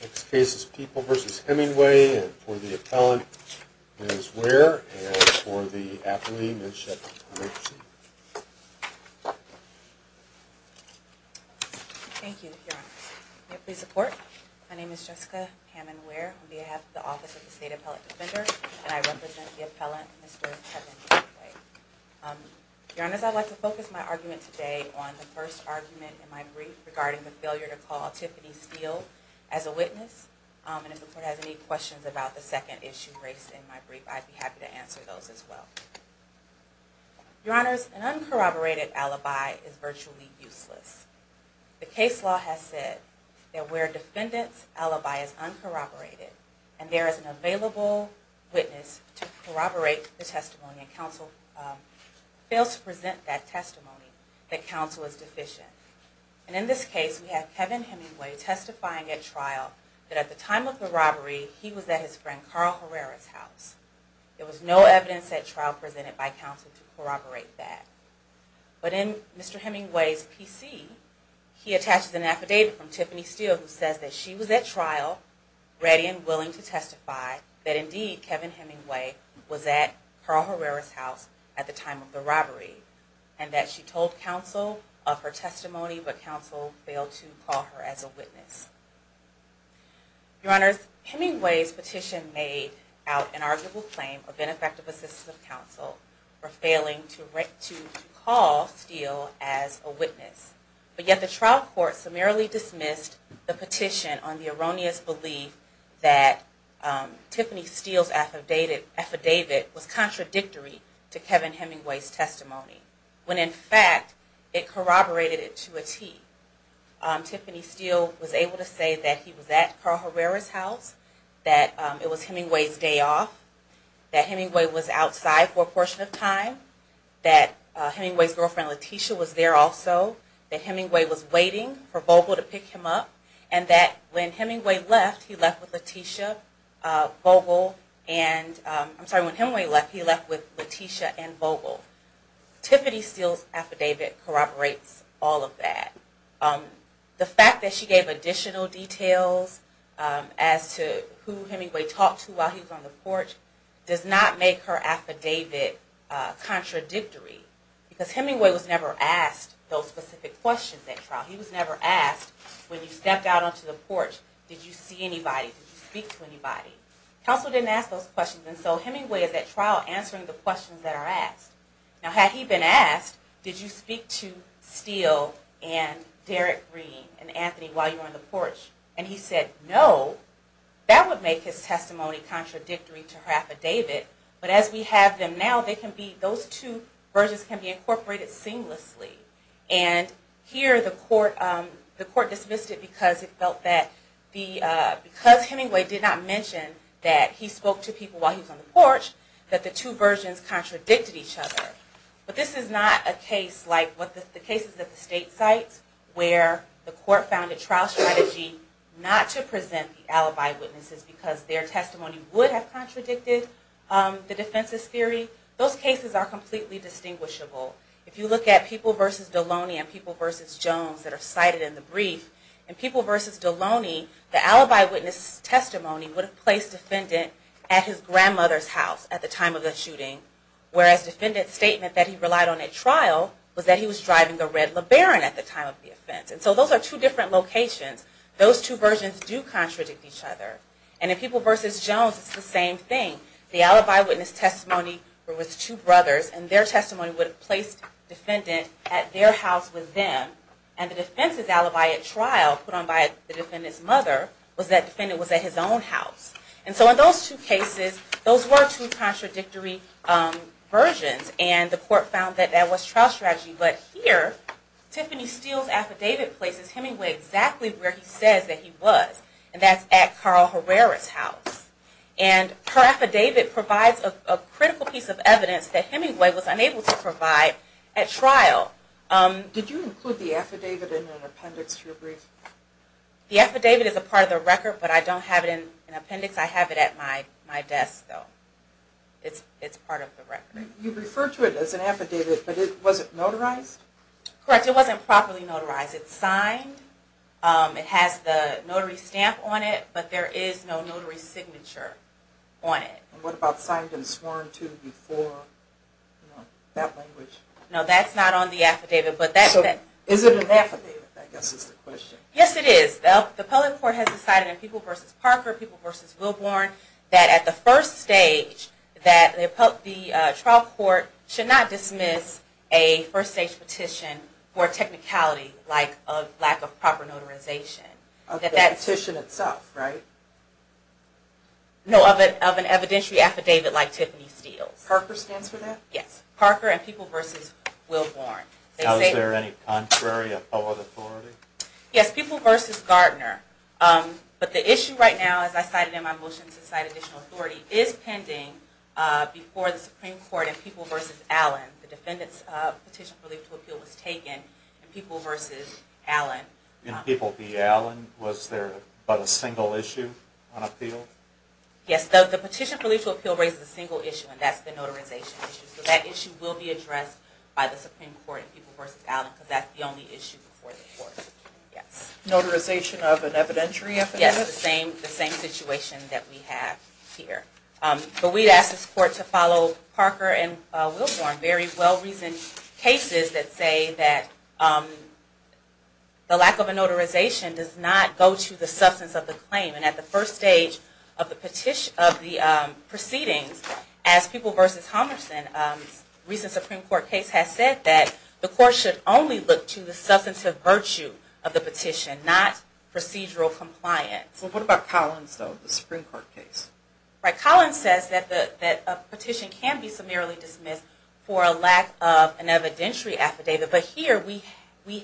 Next case is People v. Hemingway and for the appellant Ms. Ware and for the affiliate Ms. Sheppard-Hemingway. Thank you, your honor. May I please report? My name is Jessica Hammond Ware. I'm the head of the Office of the State Appellate Defender and I represent the appellant, Mr. Hemingway. Your honors, I'd like to focus my argument today on the first argument in my brief regarding the failure to call Tiffany Steele as a witness. And if the court has any questions about the second issue raised in my brief, I'd be happy to answer those as well. Your honors, an uncorroborated alibi is virtually useless. The case law has said that where a defendant's alibi is uncorroborated and there is an available witness to corroborate the testimony, and counsel fails to present that testimony, that counsel is deficient. And in this case, we have Kevin Hemingway testifying at trial that at the time of the robbery, he was at his friend Carl Herrera's house. There was no evidence at trial presented by counsel to corroborate that. But in Mr. Hemingway's PC, he attaches an affidavit from Tiffany Steele who says that she was at trial ready and willing to testify that indeed Kevin Hemingway was at Carl Herrera's house at the time of the robbery, and that she told counsel of her testimony, but counsel failed to call her as a witness. Your honors, Hemingway's petition made out an arguable claim of ineffective assistance of counsel for failing to call Steele as a witness. But yet the trial court summarily dismissed the petition on the erroneous belief that Tiffany Steele's affidavit was contradictory to Kevin Hemingway's testimony, when in fact it corroborated it to a T. Tiffany Steele was able to say that he was at Carl Herrera's house, that it was Hemingway's day off, that Hemingway was outside for a portion of time, that Hemingway's girlfriend Letitia was there also, that Hemingway was waiting for Vogel to pick him up, and that when Hemingway left, he left with Letitia, Vogel, and I'm sorry, when Hemingway left, he left with Letitia and Vogel. Tiffany Steele's affidavit corroborates all of that. The fact that she gave additional details as to who Hemingway talked to while he was on the porch does not make her affidavit contradictory, because Hemingway was never asked those specific questions at trial. He was never asked, when you stepped out onto the porch, did you see anybody, did you speak to anybody? Counsel didn't ask those questions, and so Hemingway is at trial answering the questions that are asked. Now had he been asked, did you speak to Steele and Derrick Green and Anthony while you were on the porch, and he said no, that would make his testimony contradictory to her affidavit, but as we have them now, they can be, those two versions can be incorporated seamlessly. And here the court dismissed it because it felt that because Hemingway did not mention that he spoke to people while he was on the porch, that the two versions contradicted each other. But this is not a case like the cases at the state sites where the court found a trial strategy not to present the alibi witnesses because their testimony would have contradicted the defense's theory. Those cases are completely distinguishable. If you look at People v. Deloney and People v. Jones that are cited in the brief, in People v. Deloney, the alibi witness testimony would have placed the defendant at his grandmother's house at the time of the shooting, whereas the defendant's statement that he relied on at trial was that he was driving a red LeBaron at the time of the offense. And so those are two different locations. Those two versions do contradict each other. And in People v. Jones, it's the same thing. The alibi witness testimony was two brothers, and their testimony would have placed the defendant at their house with them. And the defense's alibi at trial, put on by the defendant's mother, was that the defendant was at his own house. And so in those two cases, those were two contradictory versions, and the court found that that was trial strategy. But here, Tiffany Steele's affidavit places Hemingway exactly where he says that he was, and that's at Carl Herrera's house. And her affidavit provides a critical piece of evidence that Hemingway was unable to provide at trial. Did you include the affidavit in an appendix to your brief? The affidavit is a part of the record, but I don't have it in an appendix. I have it at my desk, though. It's part of the record. You referred to it as an affidavit, but was it notarized? Correct. It wasn't properly notarized. It's signed. It has the notary stamp on it, but there is no notary signature on it. And what about signed and sworn to before? No, that's not on the affidavit. So is it an affidavit, I guess is the question. Yes, it is. The public court has decided in People v. Parker, People v. Wilborn, that at the first stage, that the trial court should not dismiss a first-stage petition for technicality like a lack of proper notarization. Of the petition itself, right? No, of an evidentiary affidavit like Tiffany Steele's. Parker stands for that? Yes, Parker and People v. Wilborn. Now is there any contrary or other authority? Yes, People v. Gardner. But the issue right now, as I cited in my motion to cite additional authority, is pending before the Supreme Court in People v. Allen. The defendant's petition for legal appeal was taken in People v. Allen. In People v. Allen, was there but a single issue on appeal? Yes, the petition for legal appeal raises a single issue, and that's the notarization issue. So that issue will be addressed by the Supreme Court in People v. Allen, because that's the only issue before the court. Notarization of an evidentiary affidavit? Yes, the same situation that we have here. But we ask this court to follow Parker and Wilborn. Very well-reasoned cases that say that the lack of a notarization does not go to the substance of the claim. And at the first stage of the proceedings, as People v. Homerson's recent Supreme Court case has said, that the court should only look to the substantive virtue of the petition, not procedural compliance. So what about Collins, though, the Supreme Court case? Right, Collins says that a petition can be summarily dismissed for a lack of an evidentiary affidavit. But here we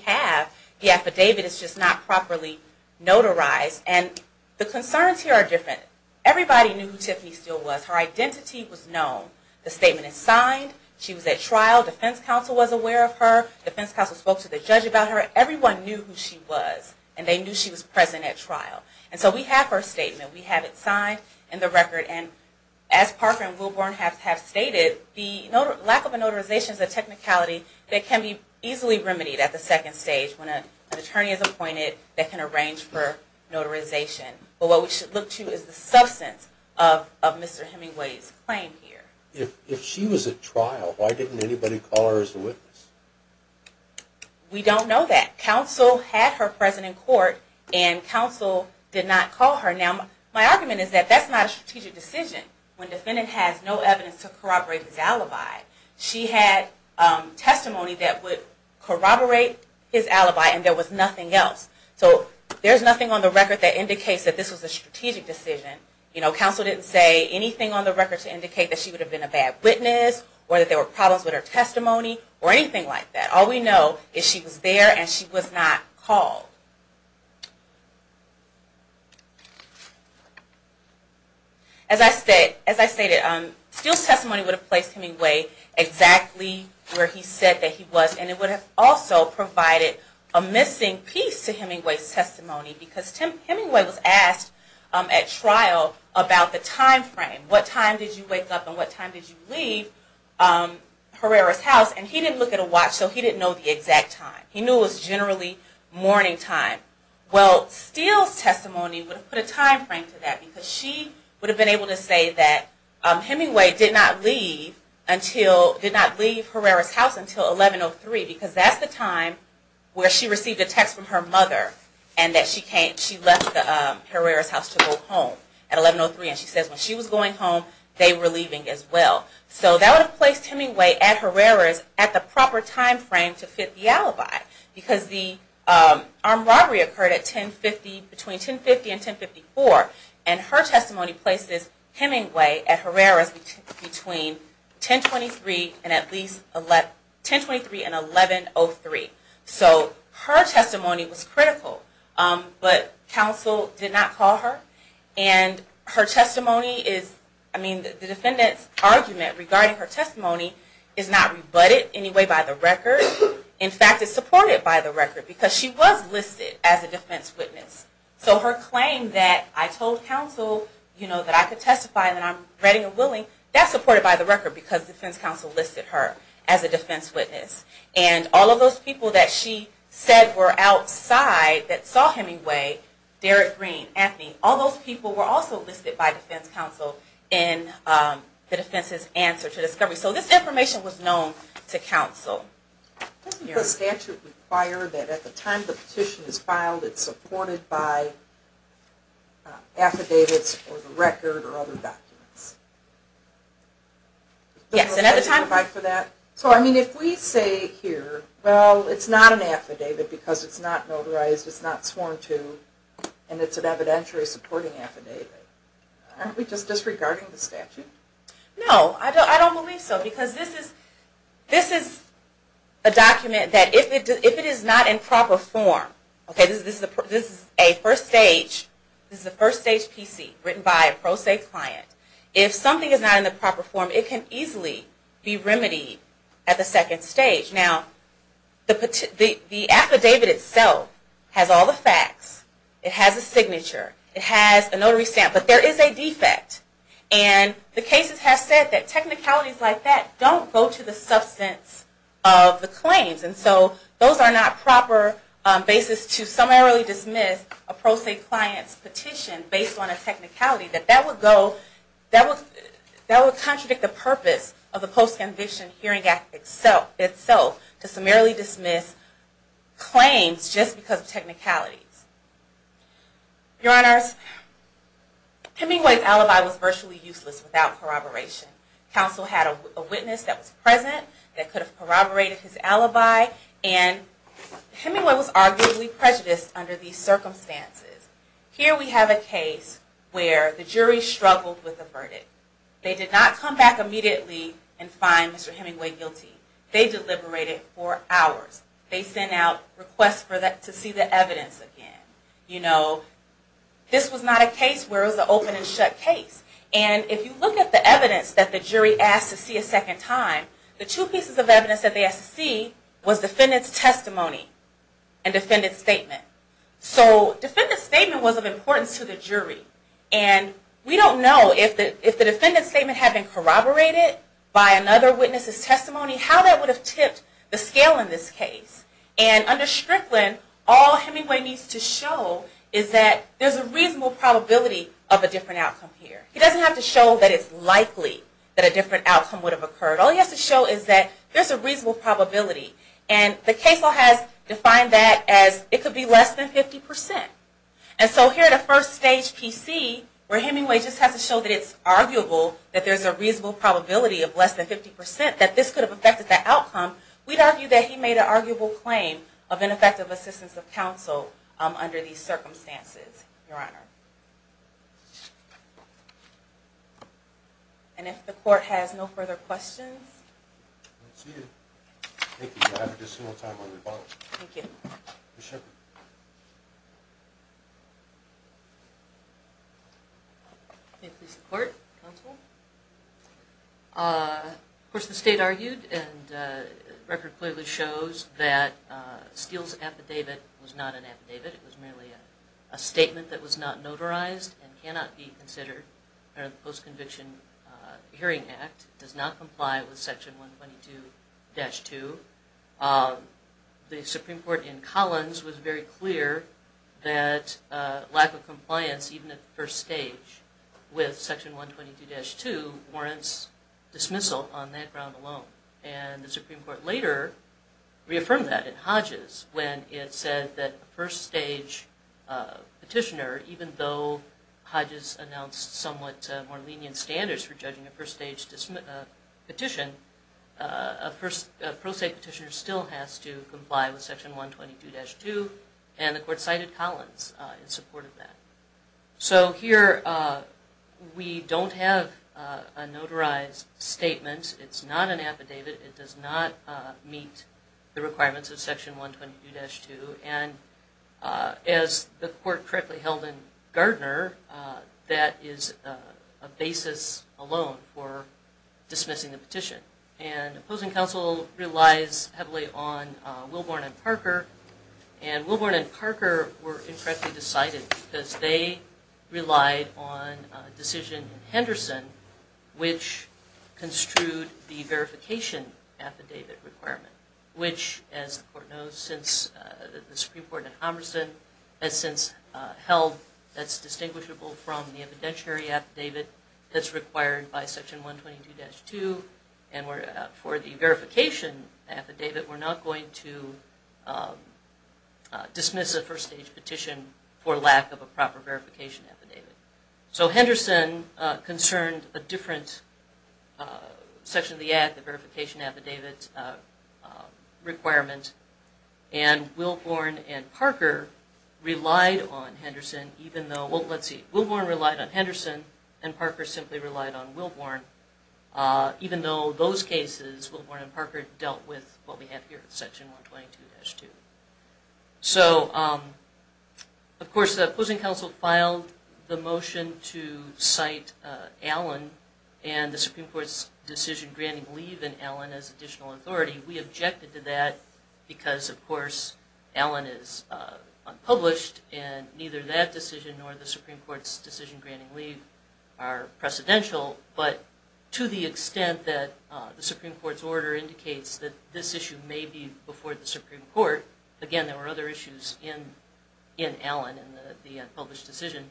have the affidavit. It's just not properly notarized. And the concerns here are different. Everybody knew who Tiffany Steele was. Her identity was known. The statement is signed. She was at trial. Defense counsel was aware of her. Defense counsel spoke to the judge about her. Everyone knew who she was. And they knew she was present at trial. And so we have her statement. We have it signed in the record. And as Parker and Wilborn have stated, the lack of a notarization is a technicality that can be easily remedied at the second stage when an attorney is appointed that can arrange for notarization. But what we should look to is the substance of Mr. Hemingway's claim here. We don't know that. Counsel had her present in court, and counsel did not call her. Now, my argument is that that's not a strategic decision when defendant has no evidence to corroborate his alibi. She had testimony that would corroborate his alibi, and there was nothing else. So there's nothing on the record that indicates that this was a strategic decision. You know, counsel didn't say anything on the record to indicate that she would have been a bad witness or that there were problems with her testimony or anything like that. All we know is she was there and she was not called. As I stated, Steele's testimony would have placed Hemingway exactly where he said that he was, and it would have also provided a missing piece to Hemingway's testimony, because Hemingway was asked at trial about the time frame. What time did you wake up and what time did you leave Herrera's house? And he didn't look at a watch, so he didn't know the exact time. He knew it was generally morning time. Well, Steele's testimony would have put a time frame to that, because she would have been able to say that Hemingway did not leave Herrera's house until 1103, because that's the time where she received a text from her mother, and that she left Herrera's house to go home at 1103. And she says when she was going home, they were leaving as well. So that would have placed Hemingway at Herrera's at the proper time frame to fit the alibi, because the armed robbery occurred between 1050 and 1054, and her testimony places Hemingway at Herrera's between 1023 and 1103. So her testimony was critical, but counsel did not call her, and the defendant's argument regarding her testimony is not rebutted anyway by the record. In fact, it's supported by the record, because she was listed as a defense witness. So her claim that I told counsel that I could testify and that I'm ready and willing, that's supported by the record, because defense counsel listed her as a defense witness. And all of those people that she said were outside that saw Hemingway, Derrick Green, Anthony, all those people were also listed by defense counsel in the defense's answer to discovery. So this information was known to counsel. Doesn't the statute require that at the time the petition is filed, it's supported by affidavits or the record or other documents? Yes, and at the time... So I mean, if we say here, well, it's not an affidavit because it's not notarized, it's not sworn to, and it's an evidentiary supporting affidavit, aren't we just disregarding the statute? No, I don't believe so, because this is a document that if it is not in proper form, okay, this is a first stage PC written by a pro se client. If something is not in the proper form, it can easily be remedied at the second stage. Now, the affidavit itself has all the facts. It has a signature. It has a notary stamp, but there is a defect. And the cases have said that technicalities like that don't go to the substance of the claims. And so those are not proper basis to summarily dismiss a pro se client's petition based on a technicality. That would contradict the purpose of the Post-Conviction Hearing Act itself to summarily dismiss claims just because of technicalities. Your Honors, Hemingway's alibi was virtually useless without corroboration. Counsel had a witness that was present that could have corroborated his alibi, and Hemingway was arguably prejudiced under these circumstances. Here we have a case where the jury struggled with the verdict. They did not come back immediately and find Mr. Hemingway guilty. They deliberated for hours. They sent out requests to see the evidence again. You know, this was not a case where it was an open and shut case. And if you look at the evidence that the jury asked to see a second time, the two pieces of evidence that they asked to see was defendant's testimony and defendant's statement. So defendant's statement was of importance to the jury, and we don't know if the defendant's statement had been corroborated by another witness's testimony, how that would have tipped the scale in this case. And under Strickland, all Hemingway needs to show is that there's a reasonable probability of a different outcome here. He doesn't have to show that it's likely that a different outcome would have occurred. All he has to show is that there's a reasonable probability. And the case law has defined that as it could be less than 50%. And so here at a first stage PC, where Hemingway just has to show that it's arguable that there's a reasonable probability of less than 50% that this could have affected the outcome, we'd argue that he made an arguable claim of ineffective assistance of counsel under these circumstances, Your Honor. And if the court has no further questions. Thank you. Thank you. We'll have just one more time on rebuttals. Thank you. Ms. Shepard. May it please the court, counsel. Of course, the state argued, and the record clearly shows that Steele's affidavit was not an affidavit. It was merely a statement that was not notarized and cannot be considered under the Post-Conviction Hearing Act. It does not comply with Section 122-2. The Supreme Court in Collins was very clear that lack of compliance, even at first stage, with Section 122-2 warrants dismissal on that ground alone. And the Supreme Court later reaffirmed that in Hodges when it said that first stage petitioner, even though Hodges announced somewhat more lenient standards for judging a first stage petition, a first stage petitioner still has to comply with Section 122-2. And the court cited Collins in support of that. So here we don't have a notarized statement. It's not an affidavit. It does not meet the requirements of Section 122-2. And as the court correctly held in Gardner, that is a basis alone for dismissing the petition. And opposing counsel relies heavily on Wilborn and Parker. And Wilborn and Parker were incorrectly decided because they relied on a decision in Henderson which construed the verification affidavit requirement, which as the court knows since the Supreme Court in Homerson has since held that's distinguishable from the evidentiary affidavit that's required by Section 122-2. And for the verification affidavit, we're not going to dismiss a first stage petition for lack of a proper verification affidavit. So Henderson concerned a different section of the Act, the verification affidavit requirement. And Wilborn and Parker relied on Henderson even though, well let's see, Wilborn relied on Henderson and Parker simply relied on Wilborn, even though those cases, Wilborn and Parker, dealt with what we have here with Section 122-2. So of course the opposing counsel filed the motion to cite Allen and the leave in Allen as additional authority. We objected to that because of course Allen is unpublished and neither that decision nor the Supreme Court's decision granting leave are precedential. But to the extent that the Supreme Court's order indicates that this issue may be before the Supreme Court, again there were other issues in Allen and the unpublished decision,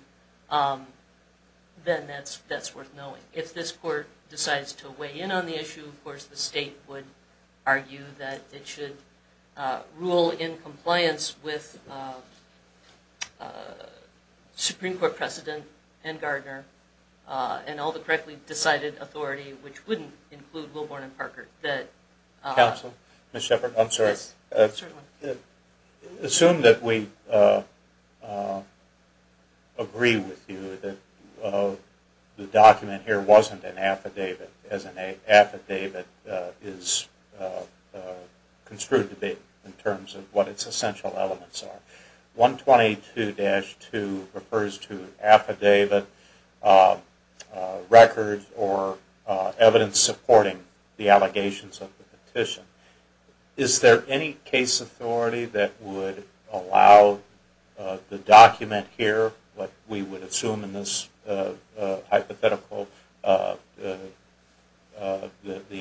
then that's worth knowing. If this court decides to weigh in on the issue, of course the state would argue that it should rule in compliance with Supreme Court precedent and Gardner and all the correctly decided authority, which wouldn't include Wilborn and Parker. Counsel, Ms. Shepard, I'm sorry. Yes, certainly. Assume that we agree with you that the document here wasn't an affidavit, as an affidavit is construed to be in terms of what its essential elements are. 122-2 refers to an affidavit, record, or evidence supporting the allegations of the petition. Is there any case authority that would allow the document here, what we would assume in this hypothetical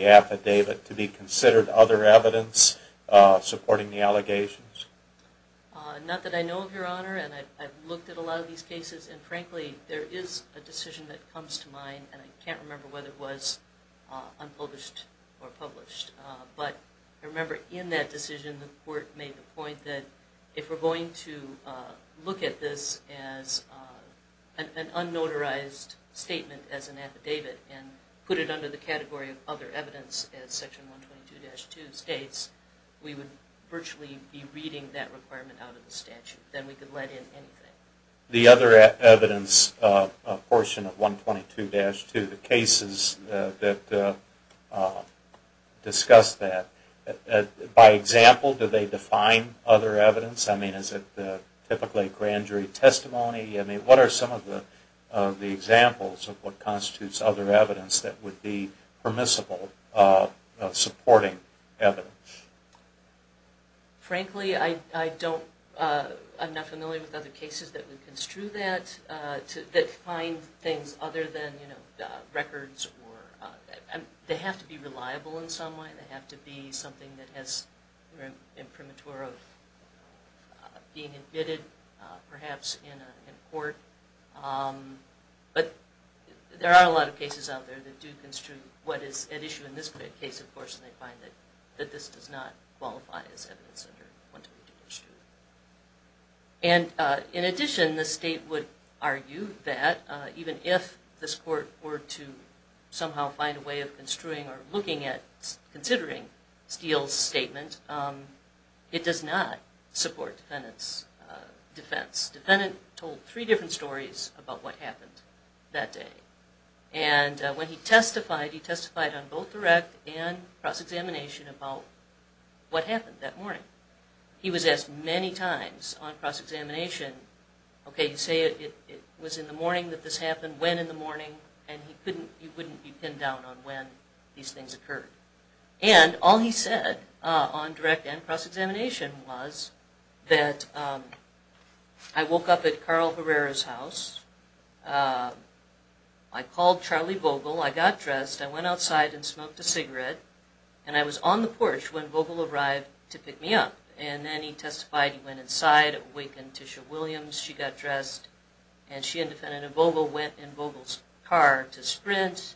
affidavit, to be considered other evidence supporting the allegations? Not that I know of, Your Honor, and I've looked at a lot of these cases and frankly there is a decision that comes to mind and I can't remember whether it was unpublished or published. But I remember in that decision the court made the point that if we're going to look at this as an unnotarized statement as an affidavit and put it under the category of other evidence, as Section 122-2 states, we would virtually be reading that requirement out of the statute. Then we could let in anything. The other evidence portion of 122-2, the cases that discuss that, by example do they define other evidence? Is it typically grand jury testimony? What are some of the examples of what constitutes other evidence that would be permissible supporting evidence? Frankly, I'm not familiar with other cases that would construe that, that find things other than records. They have to be reliable in some way. They have to be something that has imprimatur of being admitted, perhaps in court. But there are a lot of cases out there that do construe what is at issue in this case, of course, and they find that this does not qualify as evidence under 122-2. In addition, the state would argue that even if this court were to somehow find a way of construing or looking at considering Steele's statement, it does not support defendant's defense. The defendant told three different stories about what happened that day. When he testified, he testified on both direct and cross-examination about what happened that morning. He was asked many times on cross-examination, okay, you say it was in the morning that this happened, when in the morning, and he wouldn't be pinned down on when these things occurred. And all he said on direct and cross-examination was that, I woke up at Carl Herrera's house, I called Charlie Vogel, I got dressed, I went outside and smoked a cigarette, and I was on the porch when Vogel arrived to pick me up. And then he testified, he went inside, awakened Tisha Williams, she got dressed, and she and defendant Vogel went in Vogel's car to Sprint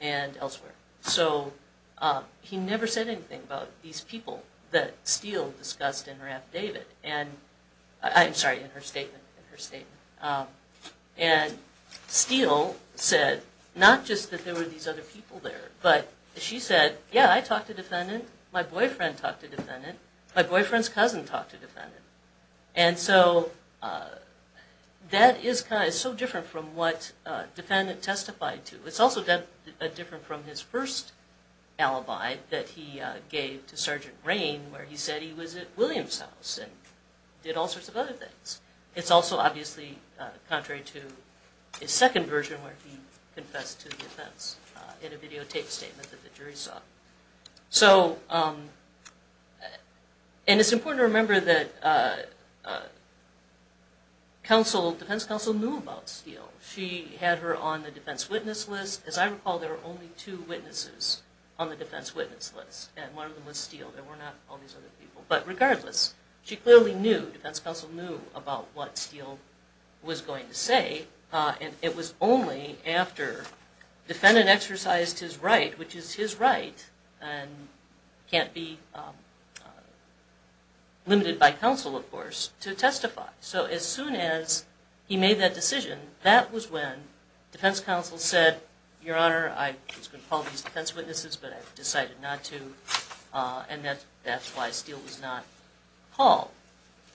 and elsewhere. So he never said anything about these people that Steele discussed in her affidavit, I'm sorry, in her statement. And Steele said, not just that there were these other people there, but she said, yeah, I talked to defendant, my boyfriend talked to defendant, my boyfriend's cousin talked to defendant. And so that is so different from what defendant testified to. It's also different from his first alibi that he gave to Sergeant Rain, where he said he was at Williams' house and did all sorts of other things. It's also obviously contrary to his second version where he confessed to the offense in a videotape statement that the jury saw. And it's important to remember that defense counsel knew about Steele. She had her on the defense witness list. As I recall, there were only two witnesses on the defense witness list, and one of them was Steele. There were not all these other people. But regardless, she clearly knew, defense counsel knew, about what Steele was going to say. And it was only after defendant exercised his right, which is his right, and can't be limited by counsel, of course, to testify. So as soon as he made that decision, that was when defense counsel said, Your Honor, I was going to call these defense witnesses, but I've decided not to. And that's why Steele was not called.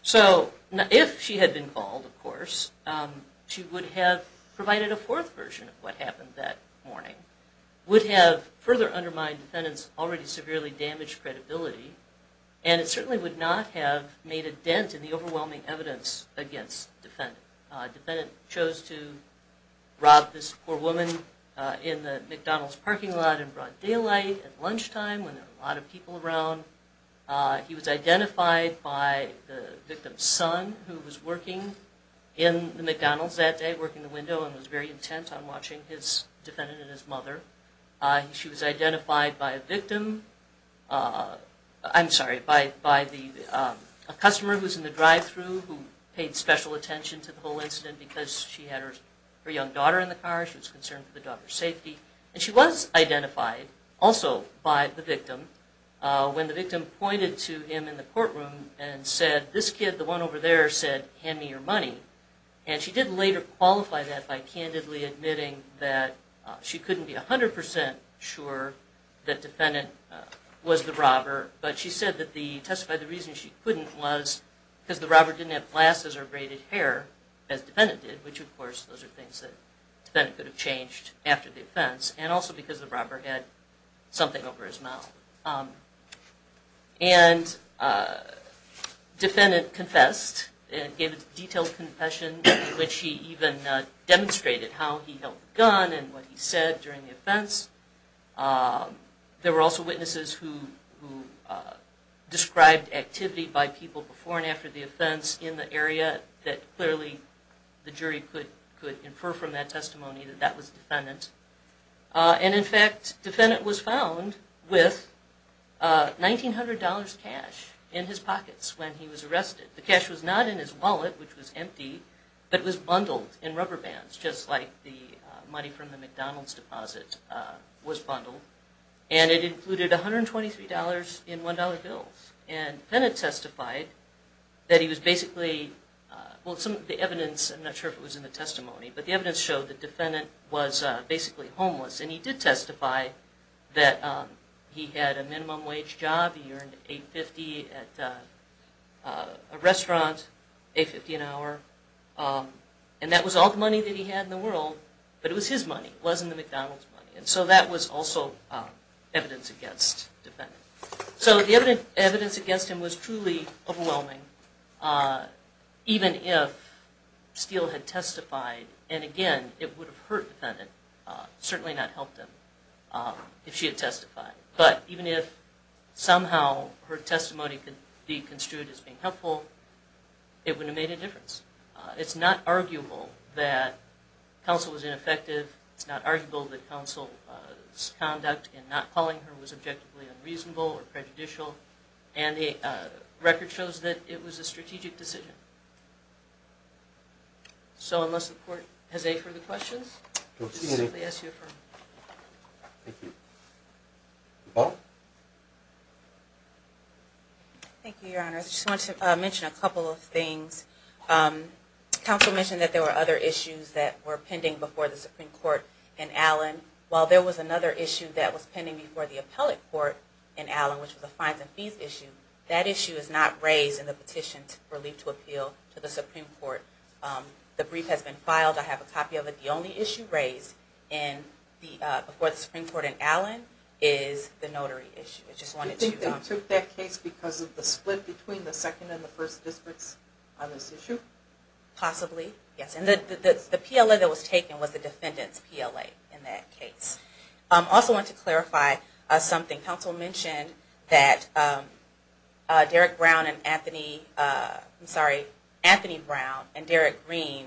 So if she had been called, of course, she would have provided a fourth version of what happened that morning, would have further undermined defendant's already severely damaged credibility, and it certainly would not have made a dent in the overwhelming evidence against defendant. Defendant chose to rob this poor woman in the McDonald's parking lot in broad daylight at lunchtime when there were a lot of people around. He was identified by the victim's son, who was working in the McDonald's that day, working the window, and was very intent on watching his defendant and his mother. She was identified by a victim, I'm sorry, by a customer who was in the drive-through who paid special attention to the whole incident because she had her young daughter in the car, she was concerned for the daughter's safety. And she was identified also by the victim when the victim pointed to him in the courtroom and said, This kid, the one over there, said, Hand me your money. And she did later qualify that by candidly admitting that she couldn't be 100% sure that defendant was the robber, but she testified the reason she couldn't was because the robber didn't have glasses or braided hair, as defendant did, which of course those are things that defendant could have changed after the offense, and also because the robber had something over his mouth. And defendant confessed and gave a detailed confession in which he even demonstrated how he held the gun and what he said during the offense. There were also witnesses who described activity by people before and after the offense in the area that clearly the jury could infer from that testimony that that was defendant. And in fact, defendant was found with $1,900 cash in his pockets when he was arrested. The cash was not in his wallet, which was empty, but was bundled in rubber bands, just like the money from the McDonald's deposit was bundled. And it included $123 in $1 bills. And defendant testified that he was basically, well, some of the evidence, I'm not sure if it was in the testimony, but the evidence showed that defendant was basically homeless, and he did testify that he had a minimum wage job, he earned $8.50 at a restaurant, $8.50 an hour. And that was all the money that he had in the world, but it was his money, it wasn't the McDonald's money. And so that was also evidence against defendant. So the evidence against him was truly overwhelming. Even if Steele had testified, and again, it would have hurt defendant, certainly not helped him, if she had testified. It wouldn't have made a difference. It's not arguable that counsel was ineffective. It's not arguable that counsel's conduct in not calling her was objectively unreasonable or prejudicial. And the record shows that it was a strategic decision. So unless the court has any further questions, I'll simply ask you to affirm. Thank you. Paul? Thank you, Your Honor. I just want to mention a couple of things. Counsel mentioned that there were other issues that were pending before the Supreme Court in Allen. While there was another issue that was pending before the appellate court in Allen, which was a fines and fees issue, that issue is not raised in the petition for leave to appeal to the Supreme Court. The brief has been filed. I have a copy of it. The only issue raised before the Supreme Court in Allen is the notary issue. Do you think they took that case because of the split between the second and the first districts on this issue? Possibly, yes. And the PLA that was taken was the defendant's PLA in that case. I also want to clarify something. Counsel mentioned that Anthony Brown and Derek Green,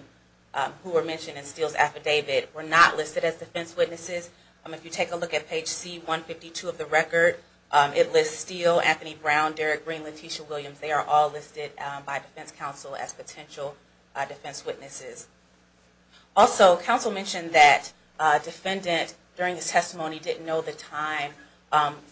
who were mentioned in Steele's affidavit, were not listed as defense witnesses. If you take a look at page C-152 of the record, it lists Steele, Anthony Brown, Derek Green, Leticia Williams. They are all listed by defense counsel as potential defense witnesses. Also, counsel mentioned that a defendant during his testimony didn't know the time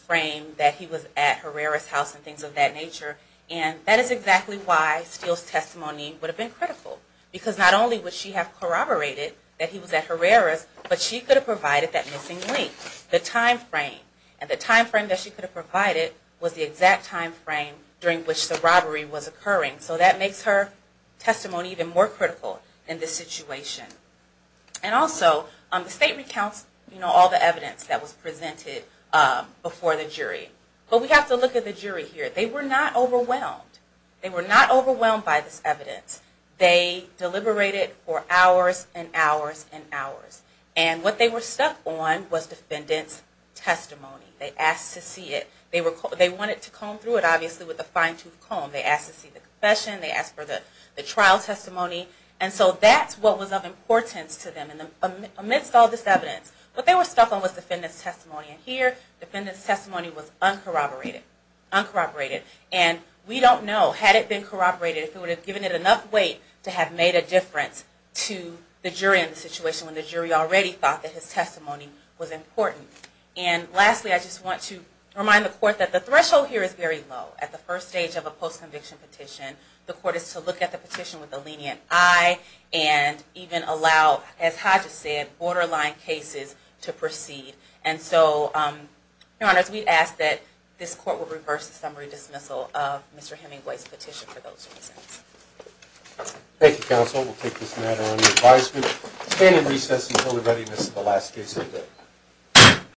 frame that he was at Herrera's house and things of that nature. And that is exactly why Steele's testimony would have been critical, because not only would she have corroborated that he was at Herrera's, but she could have provided that missing link, the time frame. And the time frame that she could have provided was the exact time frame during which the robbery was occurring. So that makes her testimony even more critical in this situation. And also, the statement counts all the evidence that was presented before the jury. But we have to look at the jury here. They were not overwhelmed. They were not overwhelmed by this evidence. They deliberated for hours and hours and hours. And what they were stuck on was defendant's testimony. They asked to see it. They wanted to comb through it, obviously, with a fine-tooth comb. They asked to see the confession. They asked for the trial testimony. And so that's what was of importance to them amidst all this evidence. What they were stuck on was defendant's testimony. And here, defendant's testimony was uncorroborated. And we don't know, had it been corroborated, if it would have given it enough weight to have made a difference to the jury in the situation when the jury already thought that his testimony was important. And lastly, I just want to remind the Court that the threshold here is very low at the first stage of a post-conviction petition. The Court is to look at the petition with a lenient eye and even allow, as Hodges said, borderline cases to proceed. And so, Your Honors, we ask that this Court will reverse the summary dismissal of Mr. Hemingway's petition for those reasons. Thank you, Counsel. We'll take this matter under advisement. Stand in recess until the readiness of the last case of the day.